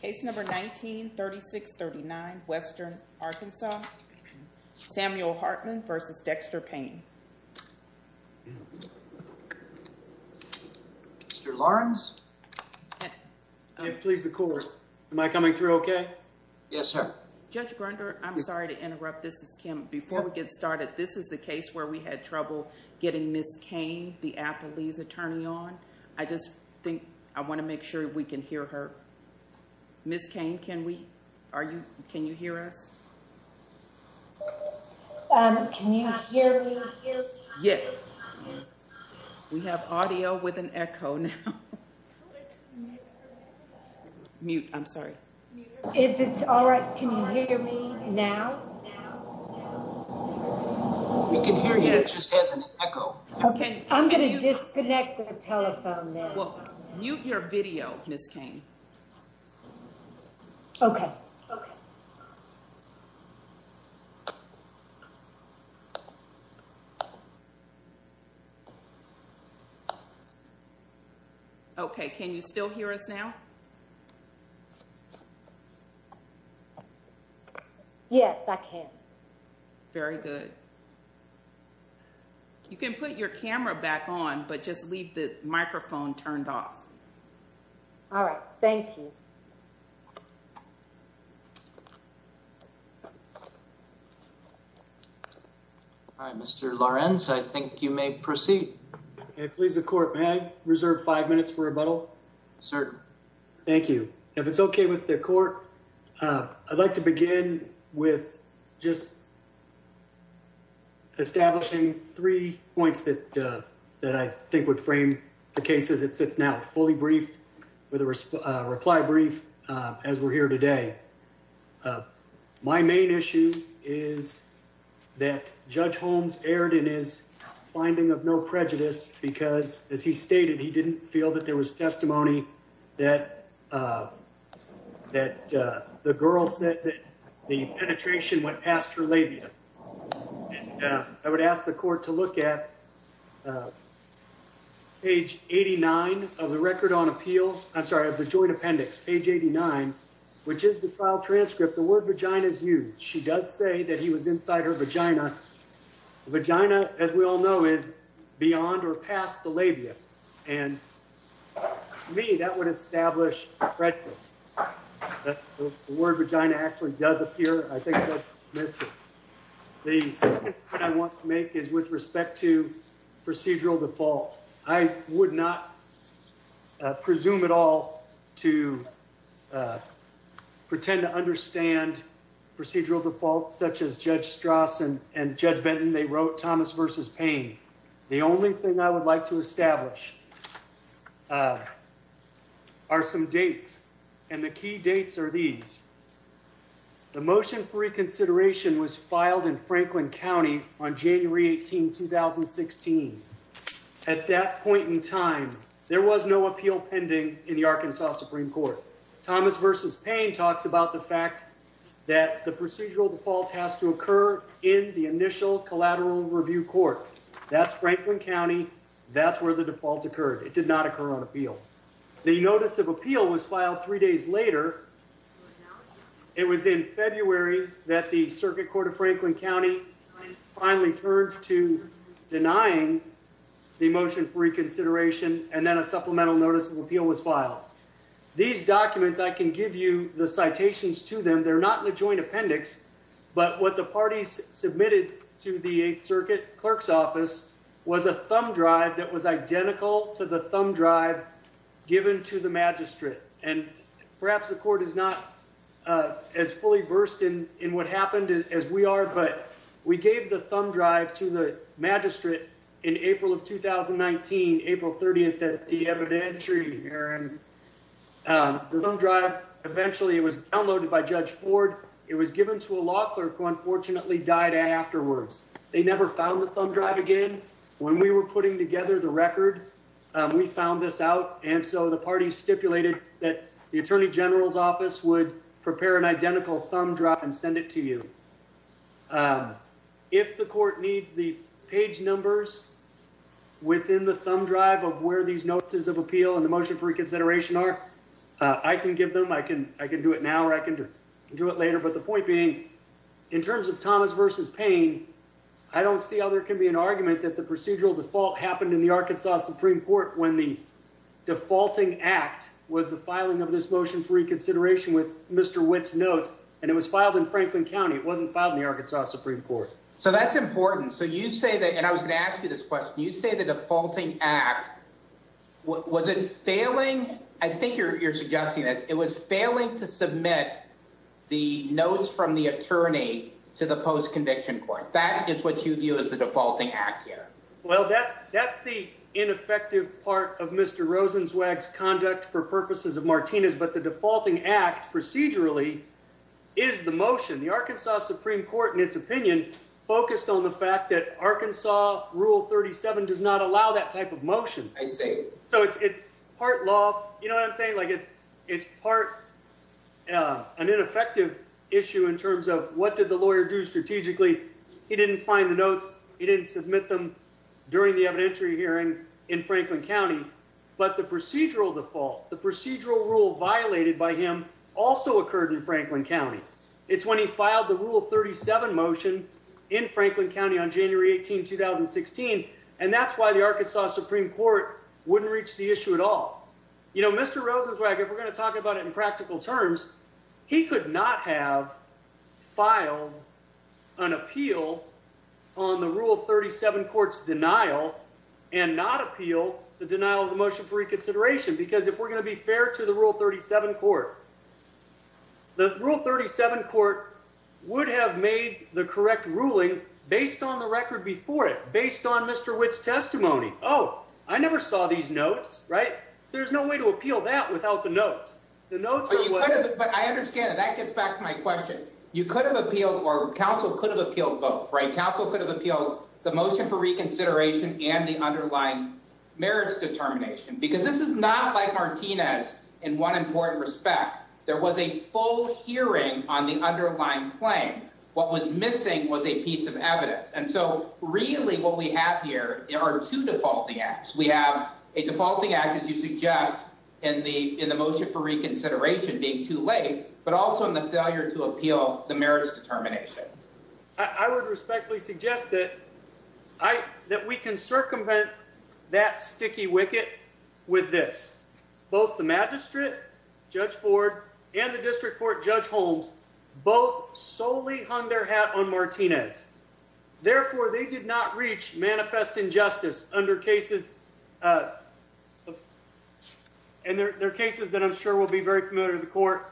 Case number 19-3639, Western Arkansas. Samuel Hartman v. Dexter Payne. Mr. Lawrence? Please, the court. Am I coming through okay? Yes, sir. Judge Grunder, I'm sorry to interrupt. This is Kim. Before we get started, this is the case where we had trouble getting Ms. Cain, the Applebee's attorney, on. I just think I want to make sure we can hear her. Ms. Cain, can you hear us? Can you hear me? Yes. We have audio with an echo now. Mute, I'm sorry. If it's all right, can you hear me now? We can hear you, it just has an echo. I'm going to disconnect the telephone now. Mute your video, Ms. Cain. Okay. Okay, can you still hear us now? Yes, I can. Very good. You can put your camera back on, but just leave the microphone turned off. All right, thank you. Mr. Lawrence, I think you may proceed. Please, the court, may I reserve five minutes for rebuttal? Certainly. Thank you. Thank you. If it's okay with the court, I'd like to begin with just establishing three points that I think would frame the case as it sits now, fully briefed with a reply brief as we're here today. My main issue is that Judge Holmes erred in his finding of no prejudice because, as he said, the penetration went past her labia. I would ask the court to look at page 89 of the record on appeal, I'm sorry, of the joint appendix, page 89, which is the file transcript. The word vagina is used. She does say that he was inside her vagina. The vagina, as we all know, is beyond or past the labia. And to me, that would establish prejudice. The word vagina actually does appear. I think Judge Holmes missed it. The second point I want to make is with respect to procedural default. I would not presume at all to pretend to understand procedural default such as Judge Strass and Judge Benton. They wrote Thomas versus Payne. The only thing I would like to establish are some dates, and the key dates are these. The motion for reconsideration was filed in Franklin County on January 18, 2016. At that point in time, there was no appeal pending in the Arkansas Supreme Court. Thomas versus Payne talks about the fact that the procedural default has to occur in the initial collateral review court. That's Franklin County. That's where the default occurred. It did not occur on appeal. The notice of appeal was filed three days later. It was in February that the Circuit Court of Franklin County finally turned to denying the motion for reconsideration, and then a supplemental notice of appeal was filed. These documents, I can give you the citations to them. They're not in the joint appendix. But what the parties submitted to the 8th Circuit Clerk's Office was a thumb drive that was identical to the thumb drive given to the magistrate. And perhaps the court is not as fully versed in what happened as we are, but we gave the thumb drive to the magistrate in April of 2019, April 30 at the evidentiary hearing. The thumb drive, eventually it was downloaded by Judge Ford. It was given to a law clerk who unfortunately died afterwards. They never found the thumb drive again. When we were putting together the record, we found this out, and so the parties stipulated that the Attorney General's Office would prepare an identical thumb drive and send it to you. If the court needs the page numbers within the thumb drive of where these notices of appeal and the motion for reconsideration are, I can give them. I can do it now or I can do it later. But the point being, in terms of Thomas v. Payne, I don't see how there can be an argument that the procedural default happened in the Arkansas Supreme Court when the defaulting act was the filing of this motion for reconsideration with Mr. Witt's notes, and it was filed in Franklin County. It wasn't filed in the Arkansas Supreme Court. So that's important. So you say that, and I was going to ask you this question. You say the defaulting act, was it failing? I think you're suggesting that. It was failing to submit the notes from the attorney to the post-conviction court. That is what you view as the defaulting act here. Well, that's the ineffective part of Mr. Rosenzweig's conduct for purposes of Martinez, but the defaulting act, procedurally, is the motion. The Arkansas Supreme Court, in its opinion, focused on the fact that Arkansas Rule 37 does not allow that type of motion. I see. So it's part law, you know what I'm saying? It's part an ineffective issue in terms of what did the lawyer do strategically. He didn't find the notes. He didn't submit them during the evidentiary hearing in Franklin County. But the procedural default, the procedural rule violated by him, also occurred in Franklin County. It's when he filed the Rule 37 motion in Franklin County on January 18, 2016, and that's why the Arkansas Supreme Court wouldn't reach the issue at all. You know, Mr. Rosenzweig, if we're going to talk about it in practical terms, he could not have filed an appeal on the Rule 37 court's denial and not appeal the denial of the motion for reconsideration. Because if we're going to be fair to the Rule 37 court, the Rule 37 court would have made the correct ruling based on the record before it, based on Mr. Witt's testimony. Oh, I never saw these notes, right? So there's no way to appeal that without the notes. The notes are what... But I understand that. That gets back to my question. You could have appealed, or counsel could have appealed both, right? Counsel could have appealed the motion for reconsideration and the underlying merits determination. Because this is not like Martinez in one important respect. There was a full hearing on the underlying claim. What was missing was a piece of evidence. And so really what we have here are two defaulting acts. We have a defaulting act, as you suggest, in the motion for reconsideration being too late, but also in the failure to appeal the merits determination. I would respectfully suggest that we can circumvent that sticky wicket with this. Both the magistrate, Judge Ford, and the district court, Judge Holmes, both solely hung their hat on Martinez. Therefore, they did not reach manifest injustice under cases... And they're cases that I'm sure will be very familiar to the court.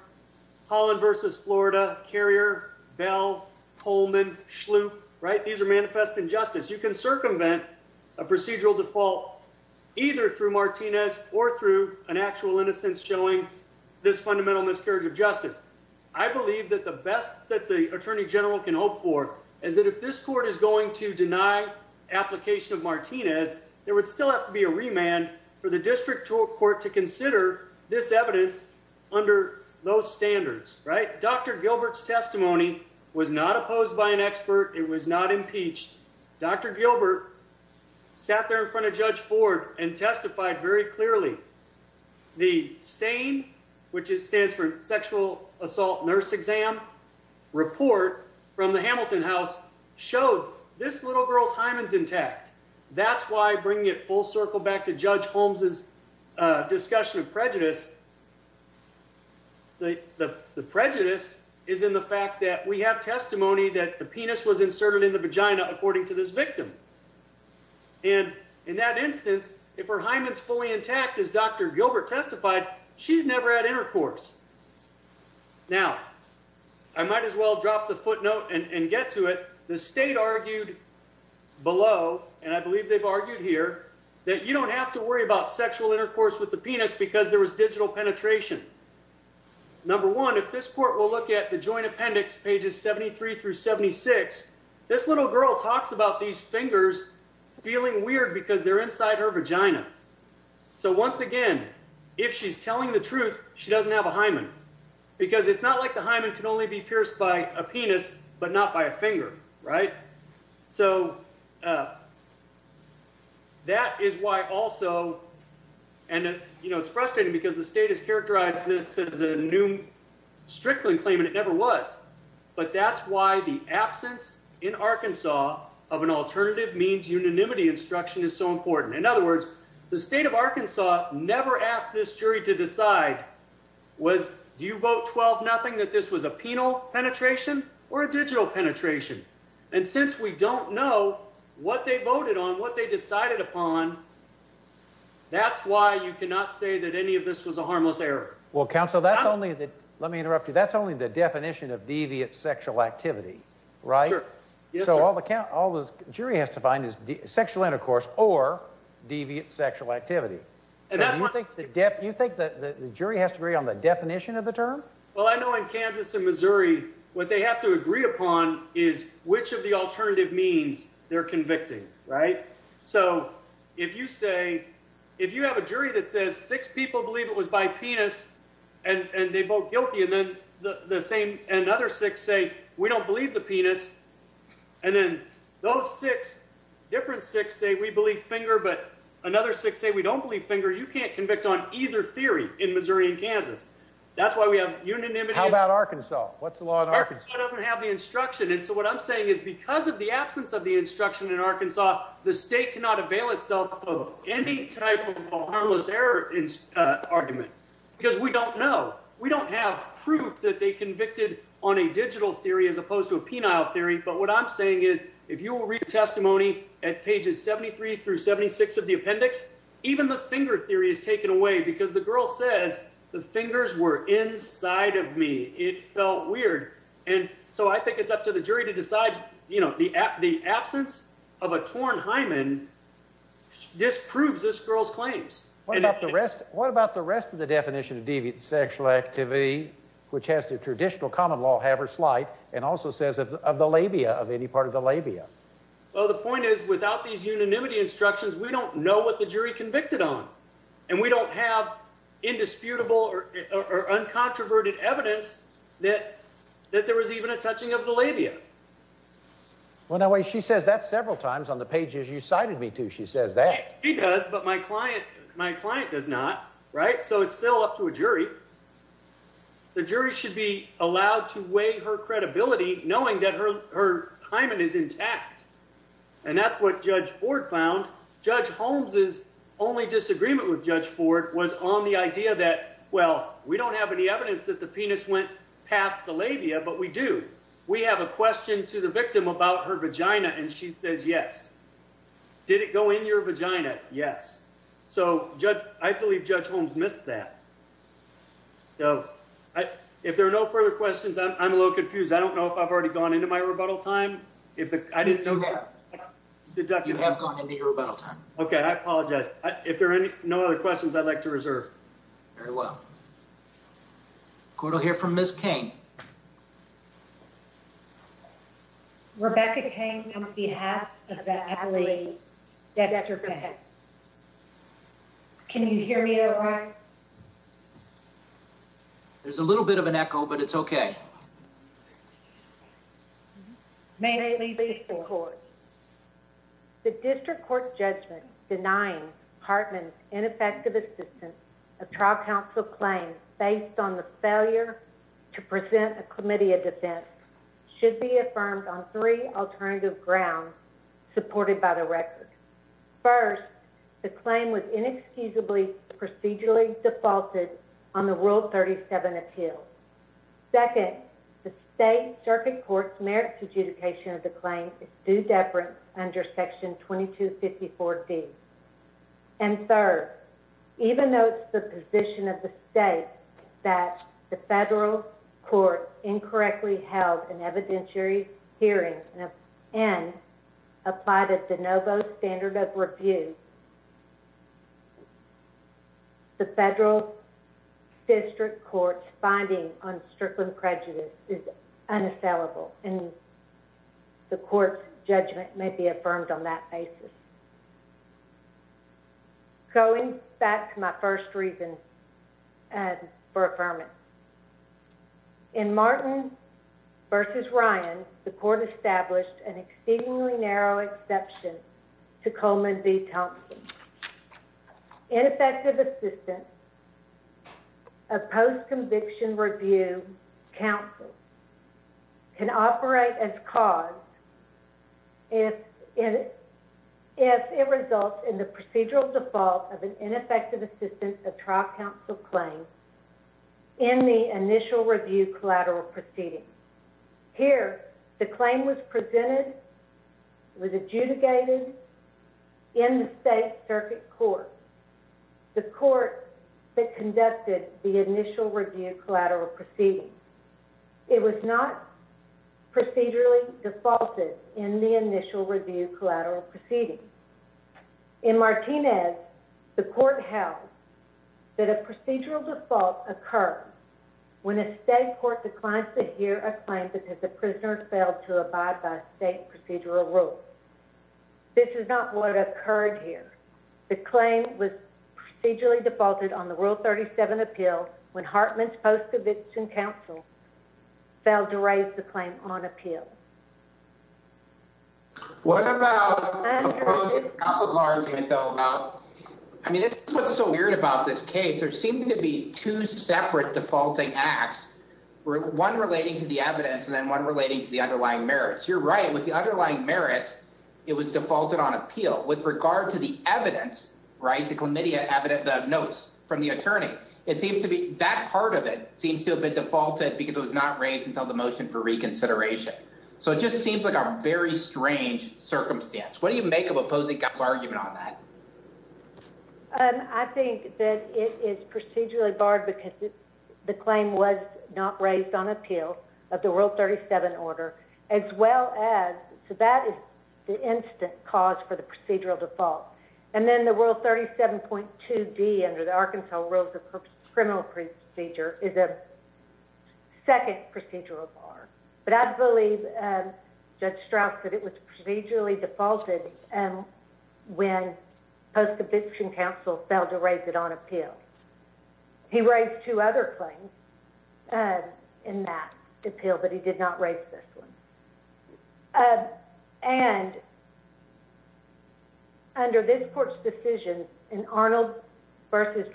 Holland v. Florida, Carrier, Bell, Coleman, Schlup, right? These are manifest injustice. You can circumvent a procedural default either through Martinez or through an actual innocence showing this fundamental miscarriage of justice. I believe that the best that the attorney general can hope for is that if this court is going to deny application of Martinez, there would still have to be a remand for the district court to consider this evidence under those standards, right? Dr. Gilbert's testimony was not opposed by an expert. It was not impeached. Dr. Gilbert sat there in front of Judge Ford and testified very clearly. The SANE, which stands for sexual assault nurse exam, report from the Hamilton House showed this little girl's hymen's intact. That's why bringing it full circle back to Judge Holmes' discussion of prejudice, the prejudice is in the fact that we have testimony that the penis was inserted in the hymen according to this victim. And in that instance, if her hymen's fully intact, as Dr. Gilbert testified, she's never had intercourse. Now, I might as well drop the footnote and get to it. The state argued below, and I believe they've argued here, that you don't have to worry about sexual intercourse with the penis because there was digital penetration. Number one, if this court will look at the joint appendix, pages 73 through 76, this little girl talks about these fingers feeling weird because they're inside her vagina. So once again, if she's telling the truth, she doesn't have a hymen because it's not like the hymen can only be pierced by a penis but not by a finger, right? So that is why also, and, you know, it's frustrating because the state has characterized this as a new Strickland claim, and it never was. But that's why the absence in Arkansas of an alternative means unanimity instruction is so important. In other words, the state of Arkansas never asked this jury to decide, do you vote 12-0 that this was a penal penetration or a digital penetration? And since we don't know what they voted on, what they decided upon, that's why you cannot say that any of this was a harmless error. Well, counsel, that's only the, let me interrupt you, that's only the definition of deviant sexual activity, right? So all the jury has to find is sexual intercourse or deviant sexual activity. Do you think the jury has to agree on the definition of the term? Well, I know in Kansas and Missouri, what they have to agree upon is which of the alternative means they're convicting, right? So if you say, if you have a jury that says six people believe it was by penis and they vote guilty, and then the same, another six say we don't believe the penis, and then those six, different six say we believe finger, but another six say we don't believe finger, you can't convict on either theory in Missouri and Kansas. That's why we have unanimity. How about Arkansas? What's the law in Arkansas? Arkansas doesn't have the instruction, and so what I'm saying is because of the absence of the instruction in Arkansas, the state cannot avail itself of any type of harmless error argument because we don't know. We don't have proof that they convicted on a digital theory as opposed to a penile theory, but what I'm saying is if you will read testimony at pages 73 through 76 of the appendix, even the finger theory is taken away because the girl says the fingers were inside of me. It felt weird. And so I think it's up to the jury to decide, you know, the absence of a torn hymen disproves this girl's claims. What about the rest of the definition of deviant sexual activity, which has the traditional common law have or slight and also says of the labia of any part of the labia? Well, the point is without these unanimity instructions, we don't know what the jury convicted on, and we don't have indisputable or uncontroverted evidence that there was even a touching of the labia. Well, now, she says that several times on the pages you cited me to. She says that. She does, but my client does not. Right. So it's still up to a jury. The jury should be allowed to weigh her credibility knowing that her hymen is intact. And that's what Judge Ford found. Judge Holmes's only disagreement with Judge Ford was on the idea that, well, we don't have any evidence that the penis went past the labia, but we do. We have a question to the victim about her vagina. And she says, yes. Did it go in your vagina? Yes. So, Judge, I believe Judge Holmes missed that. If there are no further questions, I'm a little confused. I don't know if I've already gone into my rebuttal time. I didn't know that. You have gone into your rebuttal time. Okay. I apologize. If there are no other questions, I'd like to reserve. Very well. We're going to hear from Ms. Cain. Rebecca Cain on behalf of the Adelaide Dexter Clinic. Can you hear me all right? There's a little bit of an echo, but it's okay. Ma'am, please speak to the court. The district court's judgment denying Hartman's ineffective assistance of trial counsel claims based on the failure to present a committee of defense should be affirmed on three alternative grounds supported by the record. First, the claim was inexcusably procedurally defaulted on the Rule 37 appeal. Second, the state circuit court's merits adjudication of the claim is due deference under Section 2254D. And third, even though it's the position of the state that the federal court incorrectly held an evidentiary hearing and applied a de novo standard of review, the federal district court's finding on Strickland prejudice is unassailable, and the court's judgment may be affirmed on that basis. Going back to my first reason for affirmation. In Martin v. Ryan, the court established an exceedingly narrow exception to Coleman v. Thompson. Ineffective assistance of post-conviction review counsel can operate as cause if it results in the procedural default of an ineffective assistance of trial counsel claim in the initial review collateral proceeding. Here, the claim was presented, was adjudicated in the state circuit court, the court that conducted the initial review collateral proceeding. It was not procedurally defaulted in the initial review collateral proceeding. In Martinez, the court held that a procedural default occurred when a state court declined to hear a claim because the prisoner failed to abide by state procedural rules. This is not what occurred here. The claim was procedurally defaulted on the Rule 37 appeal when Hartman's post-conviction counsel failed to raise the claim on appeal. What about the counsel's argument, though, about, I mean, this is what's so weird about this case. There seemed to be two separate defaulting acts, one relating to the evidence and then one relating to the underlying merits. You're right. With the underlying merits, it was defaulted on appeal. With regard to the evidence, right, the chlamydia notes from the attorney, it seems to be that part of it seems to have been defaulted because it was not raised until the motion for reconsideration. So it just seems like a very strange circumstance. What do you make of opposing counsel's argument on that? I think that it is procedurally barred because the claim was not raised on appeal of the Rule 37 order, as well as, so that is the instant cause for the procedural default. And then the Rule 37.2D under the Arkansas Rules of Criminal Procedure is a second procedural bar. But I believe Judge Strauss said it was procedurally defaulted when post-conviction counsel failed to raise it on appeal. He raised two other claims in that appeal, but he did not raise this one. And under this Court's decision in Arnold v. Thomas,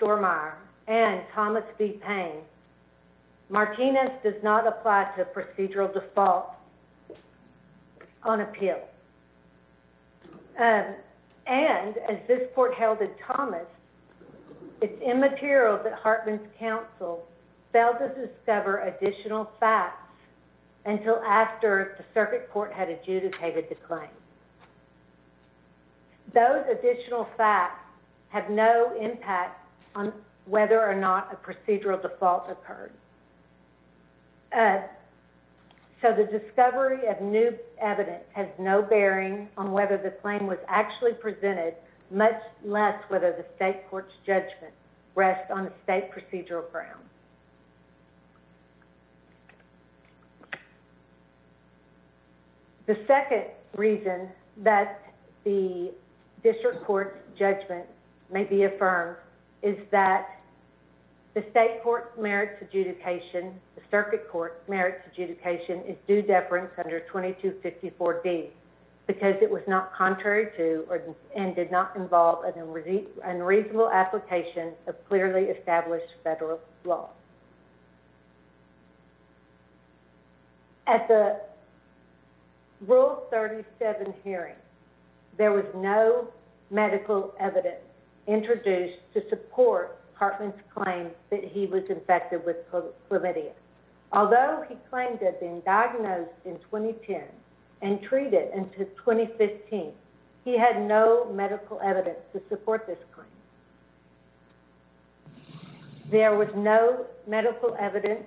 it is immaterial that Hartman's counsel failed to discover additional facts until after the circuit court had adjudicated the claim. Those additional facts have no impact on whether or not a procedural default occurred. So the discovery of new evidence has no bearing on whether the claim was actually presented, much less whether the state court's judgment rests on a state procedural ground. The second reason that the district court's judgment may be affirmed is that the state court's merits adjudication, the circuit court's merits adjudication, is due deference under 2254D because it was not contrary to and did not involve an unreasonable application of clearly established federal law. At the Rule 37 hearing, there was no medical evidence introduced to support Hartman's claim that he was infected with chlamydia. Although he claimed to have been diagnosed in 2010 and treated until 2015, he had no medical evidence to support this claim. There was no medical evidence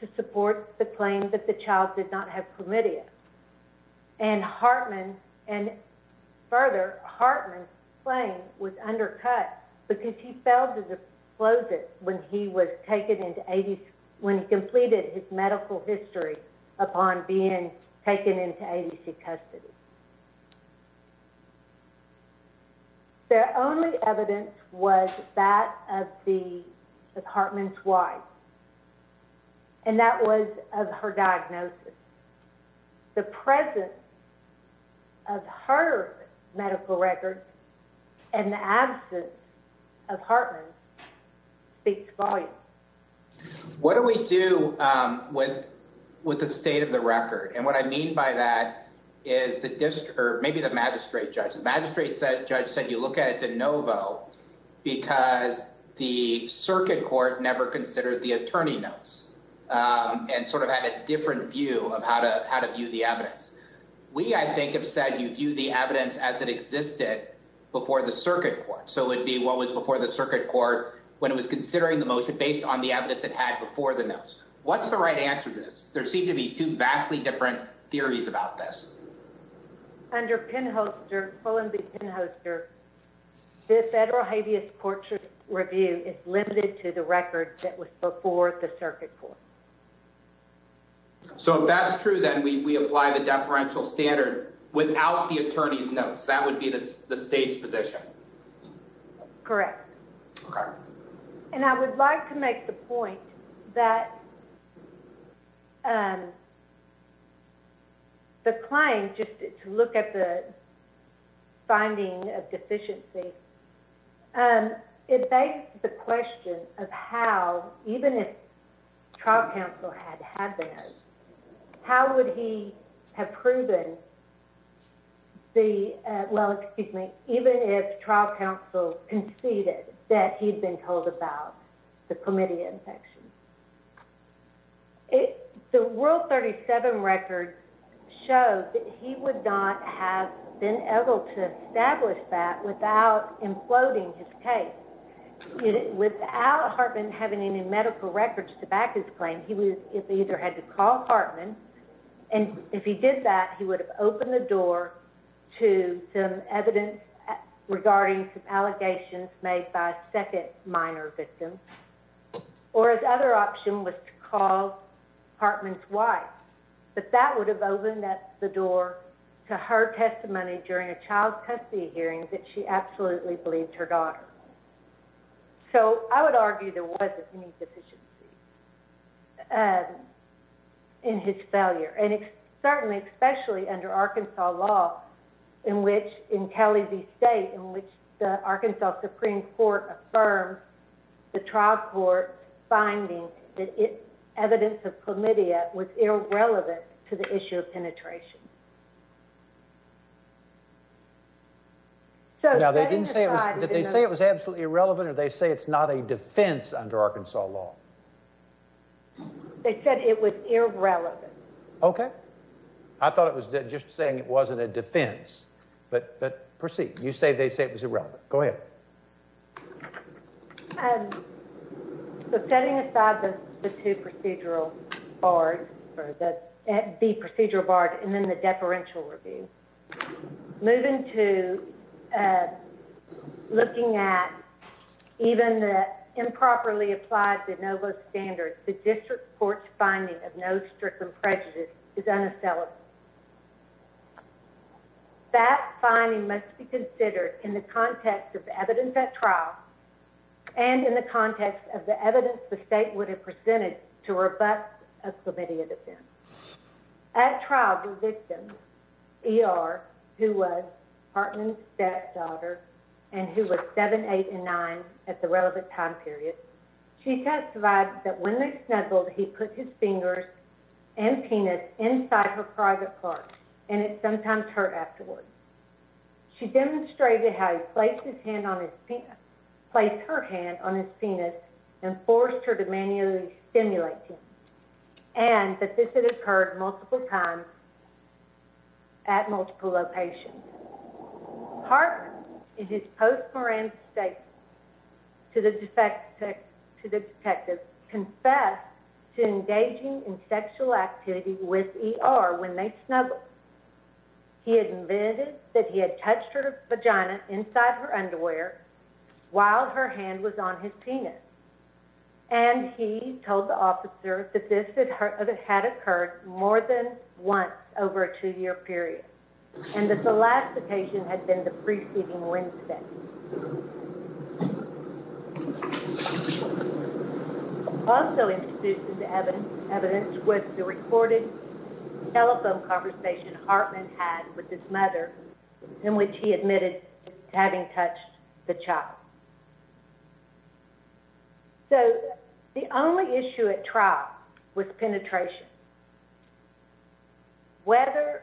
to support the claim that the child did not have chlamydia. And further, Hartman's claim was undercut because he failed to disclose it when he completed his medical history upon being taken into ADC custody. The only evidence was that of Hartman's wife. And that was of her diagnosis. The presence of her medical record and the absence of Hartman speaks volumes. What do we do with the state of the record? And what I mean by that is the district or maybe the magistrate judge. The magistrate judge said you look at it de novo because the circuit court never considered the attorney notes and sort of had a different view of how to view the evidence. We, I think, have said you view the evidence as it existed before the circuit court. So it would be what was before the circuit court when it was considering the motion based on the evidence it had before the notes. What's the right answer to this? There seem to be two vastly different theories about this. One is that under pen holster, full and big pen holster, this federal habeas portrait review is limited to the record that was before the circuit court. So if that's true, then we apply the deferential standard without the attorney's notes. That would be the state's position. Correct. And I would like to make the point that the claim, just to look at the finding of deficiency, it begs the question of how, even if trial counsel had had the notes, how would he have proven the, well, excuse me, even if he had been told about the chlamydia infection? The World 37 record shows that he would not have been able to establish that without imploding his case. Without Hartman having any medical records to back his claim, he either had to call Hartman, and if he did that, he would have opened the door to some evidence regarding some allegations made by second minor victims, or his other option was to call Hartman's wife. But that would have opened the door to her testimony during a child custody hearing that she absolutely believed her daughter. So I would argue there wasn't any deficiency in his failure. And certainly, especially under Arkansas law, in which, in Kelly v. State, in which the Arkansas Supreme Court affirmed the trial court's finding that evidence of chlamydia was irrelevant to the issue of penetration. Now, did they say it was absolutely irrelevant, or did they say it's not a defense under Arkansas law? They said it was irrelevant. Okay. I thought it was just saying it wasn't a defense. But proceed. You say they say it was irrelevant. Go ahead. Setting aside the two procedural bars, the procedural bar and then the deferential review, moving to looking at even the improperly applied de novo standards, the district court's finding of no stricken prejudice is unacceptable. That finding must be considered in the context of evidence at trial and in the context of the evidence the state would have presented to rebut a committee of defense. At trial, the victim, ER, who was Hartman's stepdaughter and who was 7, 8, and 9 at the relevant time period, she testified that when they snuggled, he put his fingers and penis inside her private parts, and it sometimes hurt afterwards. She demonstrated how he placed his hand on his penis, placed her hand on his penis and forced her to manually stimulate him, and that this had occurred multiple times at multiple locations. Hartman, in his post-mortem statement to the detective, confessed to engaging in sexual activity with ER when they snuggled. He admitted that he had touched her vagina inside her underwear while her hand was on his penis, and he told the officer that this had occurred more than once over a two-year period. And that the last occasion had been the preceding Wednesday. Also in the evidence was the recorded telephone conversation Hartman had with his mother in which he admitted having touched the child. So the only issue at trial was penetration. Whether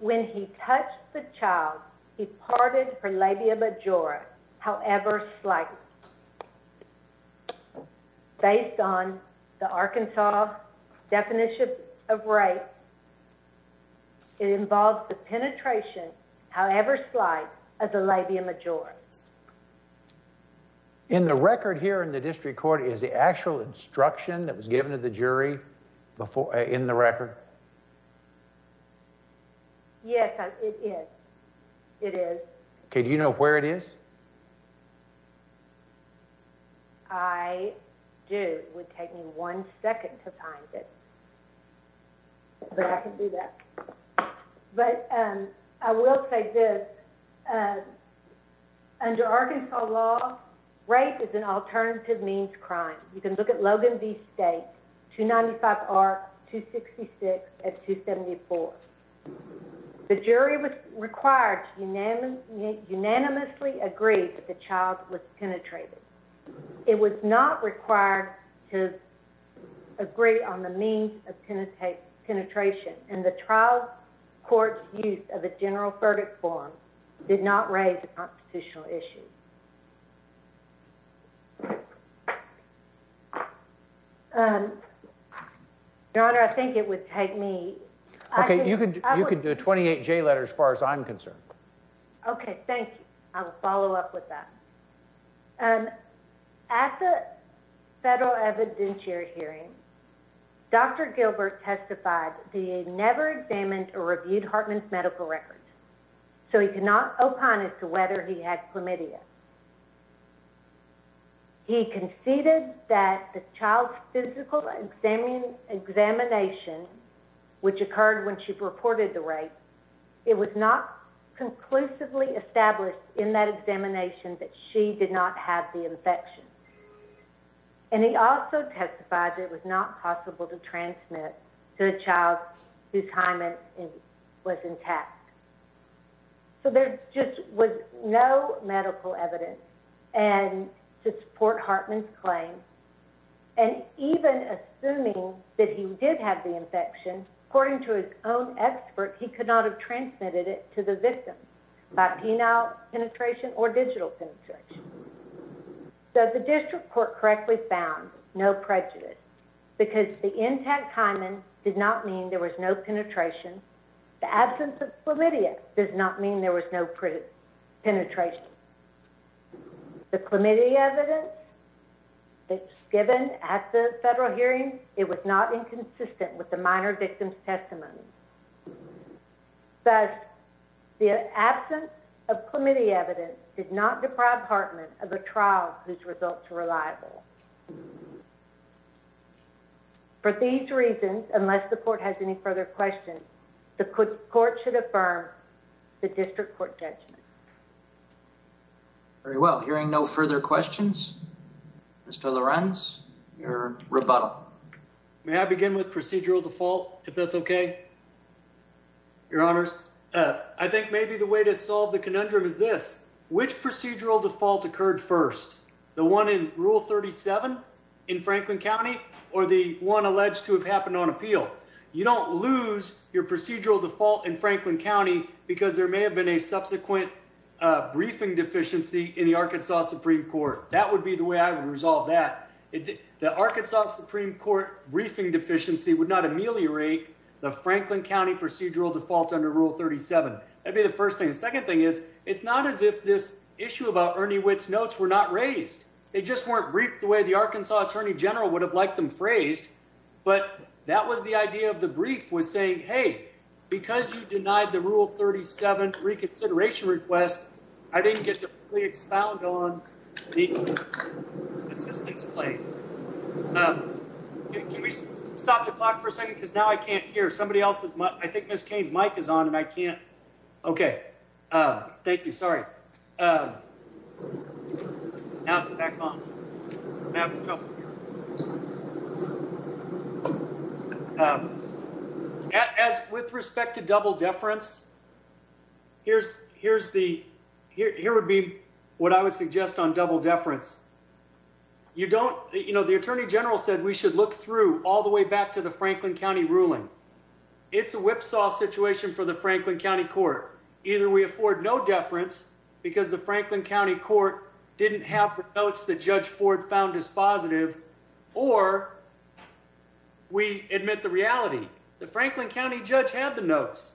when he touched the child, he parted her labia majora however slightly. Based on the Arkansas definition of rape, it involves the penetration however slight of the labia majora. In the record here in the district court is the actual instruction that was given to the jury in the record? Yes, it is. It is. Do you know where it is? I do. It would take me one second to find it. But I can do that. But I will say this. Under Arkansas law, rape is an alternative means of crime. You can look at Logan v. State, 295R, 266, and 274. The jury was required to unanimously agree that the child was penetrated. It was not required to agree on the means of penetration. And the trial court's use of a general verdict form did not raise a constitutional issue. Your Honor, I think it would take me... Okay, you could do a 28J letter as far as I'm concerned. Okay, thank you. I will follow up with that. At the federal evidentiary hearing, Dr. Gilbert testified the DA never examined or reviewed Hartman's medical records. So he could not opine as to whether he had chlamydia. He conceded that the child's physical examination, which occurred when she reported the rape, it was not conclusively established in that examination that she did not have the infection. And he also testified it was not possible to transmit to a child whose hymen was intact. So there just was no medical evidence to support Hartman's claim. And even assuming that he did have the infection, according to his own expert, he could not have transmitted it to the victim by penile penetration or digital penetration. The absence of hymen did not mean there was no penetration. The absence of chlamydia did not mean there was no penetration. The chlamydia evidence that was given at the federal hearing, it was not inconsistent with the minor victim's testimony. Thus, the absence of chlamydia evidence did not deprive Hartman of a trial whose results were reliable. For these reasons, unless the court has any further questions, the court should affirm the district court judgment. Very well. Hearing no further questions, Mr. Lorenz, your rebuttal. May I begin with procedural default, if that's okay? Your Honors, I think maybe the way to solve the conundrum is this. Which procedural default occurred first? The one in Rule 37 in Franklin County or the one alleged to have happened on appeal? You don't lose your procedural default in Franklin County because there may have been a subsequent briefing deficiency in the Arkansas Supreme Court. That would be the way I would resolve that. The Arkansas Supreme Court briefing deficiency would not ameliorate the Franklin County procedural default under Rule 37. That would be the first thing. The second thing is, it's not as if this issue about Ernie Witt's notes were not raised. They just weren't briefed the way the Arkansas Attorney General would have liked them phrased. But that was the idea of the brief, was saying, hey, because you denied the Rule 37 reconsideration request, I didn't get to fully expound on the assistance claim. Can we stop the clock for a second? Because now I can't hear. I think Ms. Cain's mic is on and I can't. Okay. Thank you. Sorry. Now it's back on. As with respect to double deference, here's the, here would be what I would suggest on double deference. You don't, you know, the Attorney General said we should look through all the way back to the Franklin County ruling. It's a whipsaw situation for the Franklin County court. Either we afford no deference because the Franklin County court didn't have the notes that Judge Ford found as positive, or we admit the reality. The Franklin County judge had the notes.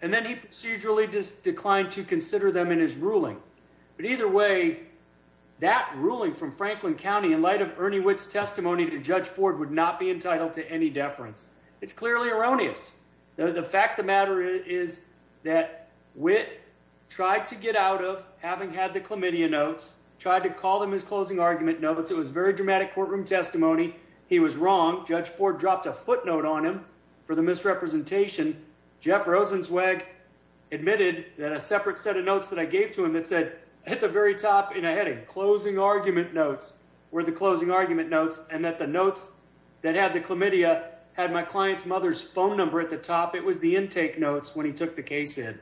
And then he procedurally just declined to consider them in his ruling. But either way, that ruling from Franklin County in light of Ernie Witt's testimony to Judge Ford would not be entitled to any deference. It's clearly erroneous. The fact of the matter is that Witt tried to get out of having had the chlamydia notes, tried to call them his closing argument. No, but it was very dramatic courtroom testimony. He was wrong. Judge Ford dropped a footnote on him for the misrepresentation. Jeff Rosenzweig admitted that a separate set of notes that I gave to him that said hit the very top in a heading closing argument notes were the closing argument notes. And that the notes that had the chlamydia had my client's mother's phone number at the top. It was the intake notes when he took the case in.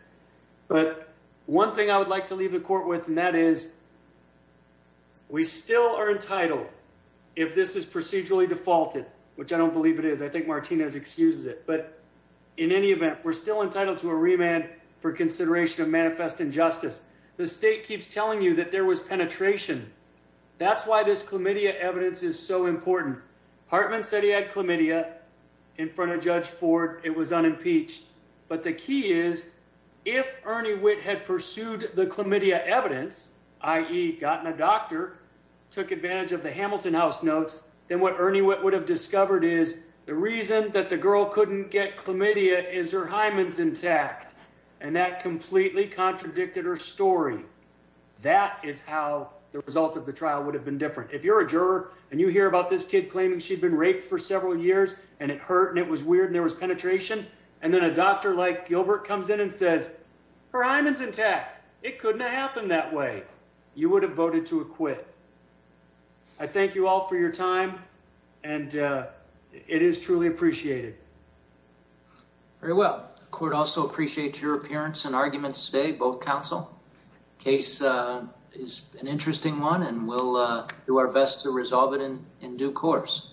But one thing I would like to leave the court with. And that is we still are entitled. If this is procedurally defaulted, which I don't believe it is. I think Martinez excuses it, but in any event, we're still entitled to a remand for consideration of manifest injustice. The state keeps telling you that there was penetration. That's why this chlamydia evidence is so important. Hartman said he had chlamydia in front of judge Ford. It was unimpeached, but the key is. If Ernie Witt had pursued the chlamydia evidence, i.e. gotten a doctor. Took advantage of the Hamilton house notes. Then what Ernie Witt would have discovered is the reason that the girl couldn't get chlamydia is her Hyman's intact. And that completely contradicted her story. That is how the result of the trial would have been different. If you're a juror and you hear about this kid claiming she'd been raped for several years and it hurt and it was weird and there was penetration. And then a doctor like Gilbert comes in and says. Her Hyman's intact. It couldn't have happened that way. You would have voted to acquit. I thank you all for your time. And it is truly appreciated. Very well. Court also appreciate your appearance and arguments today. Both counsel. Case is an interesting one and we'll do our best to resolve it in due course.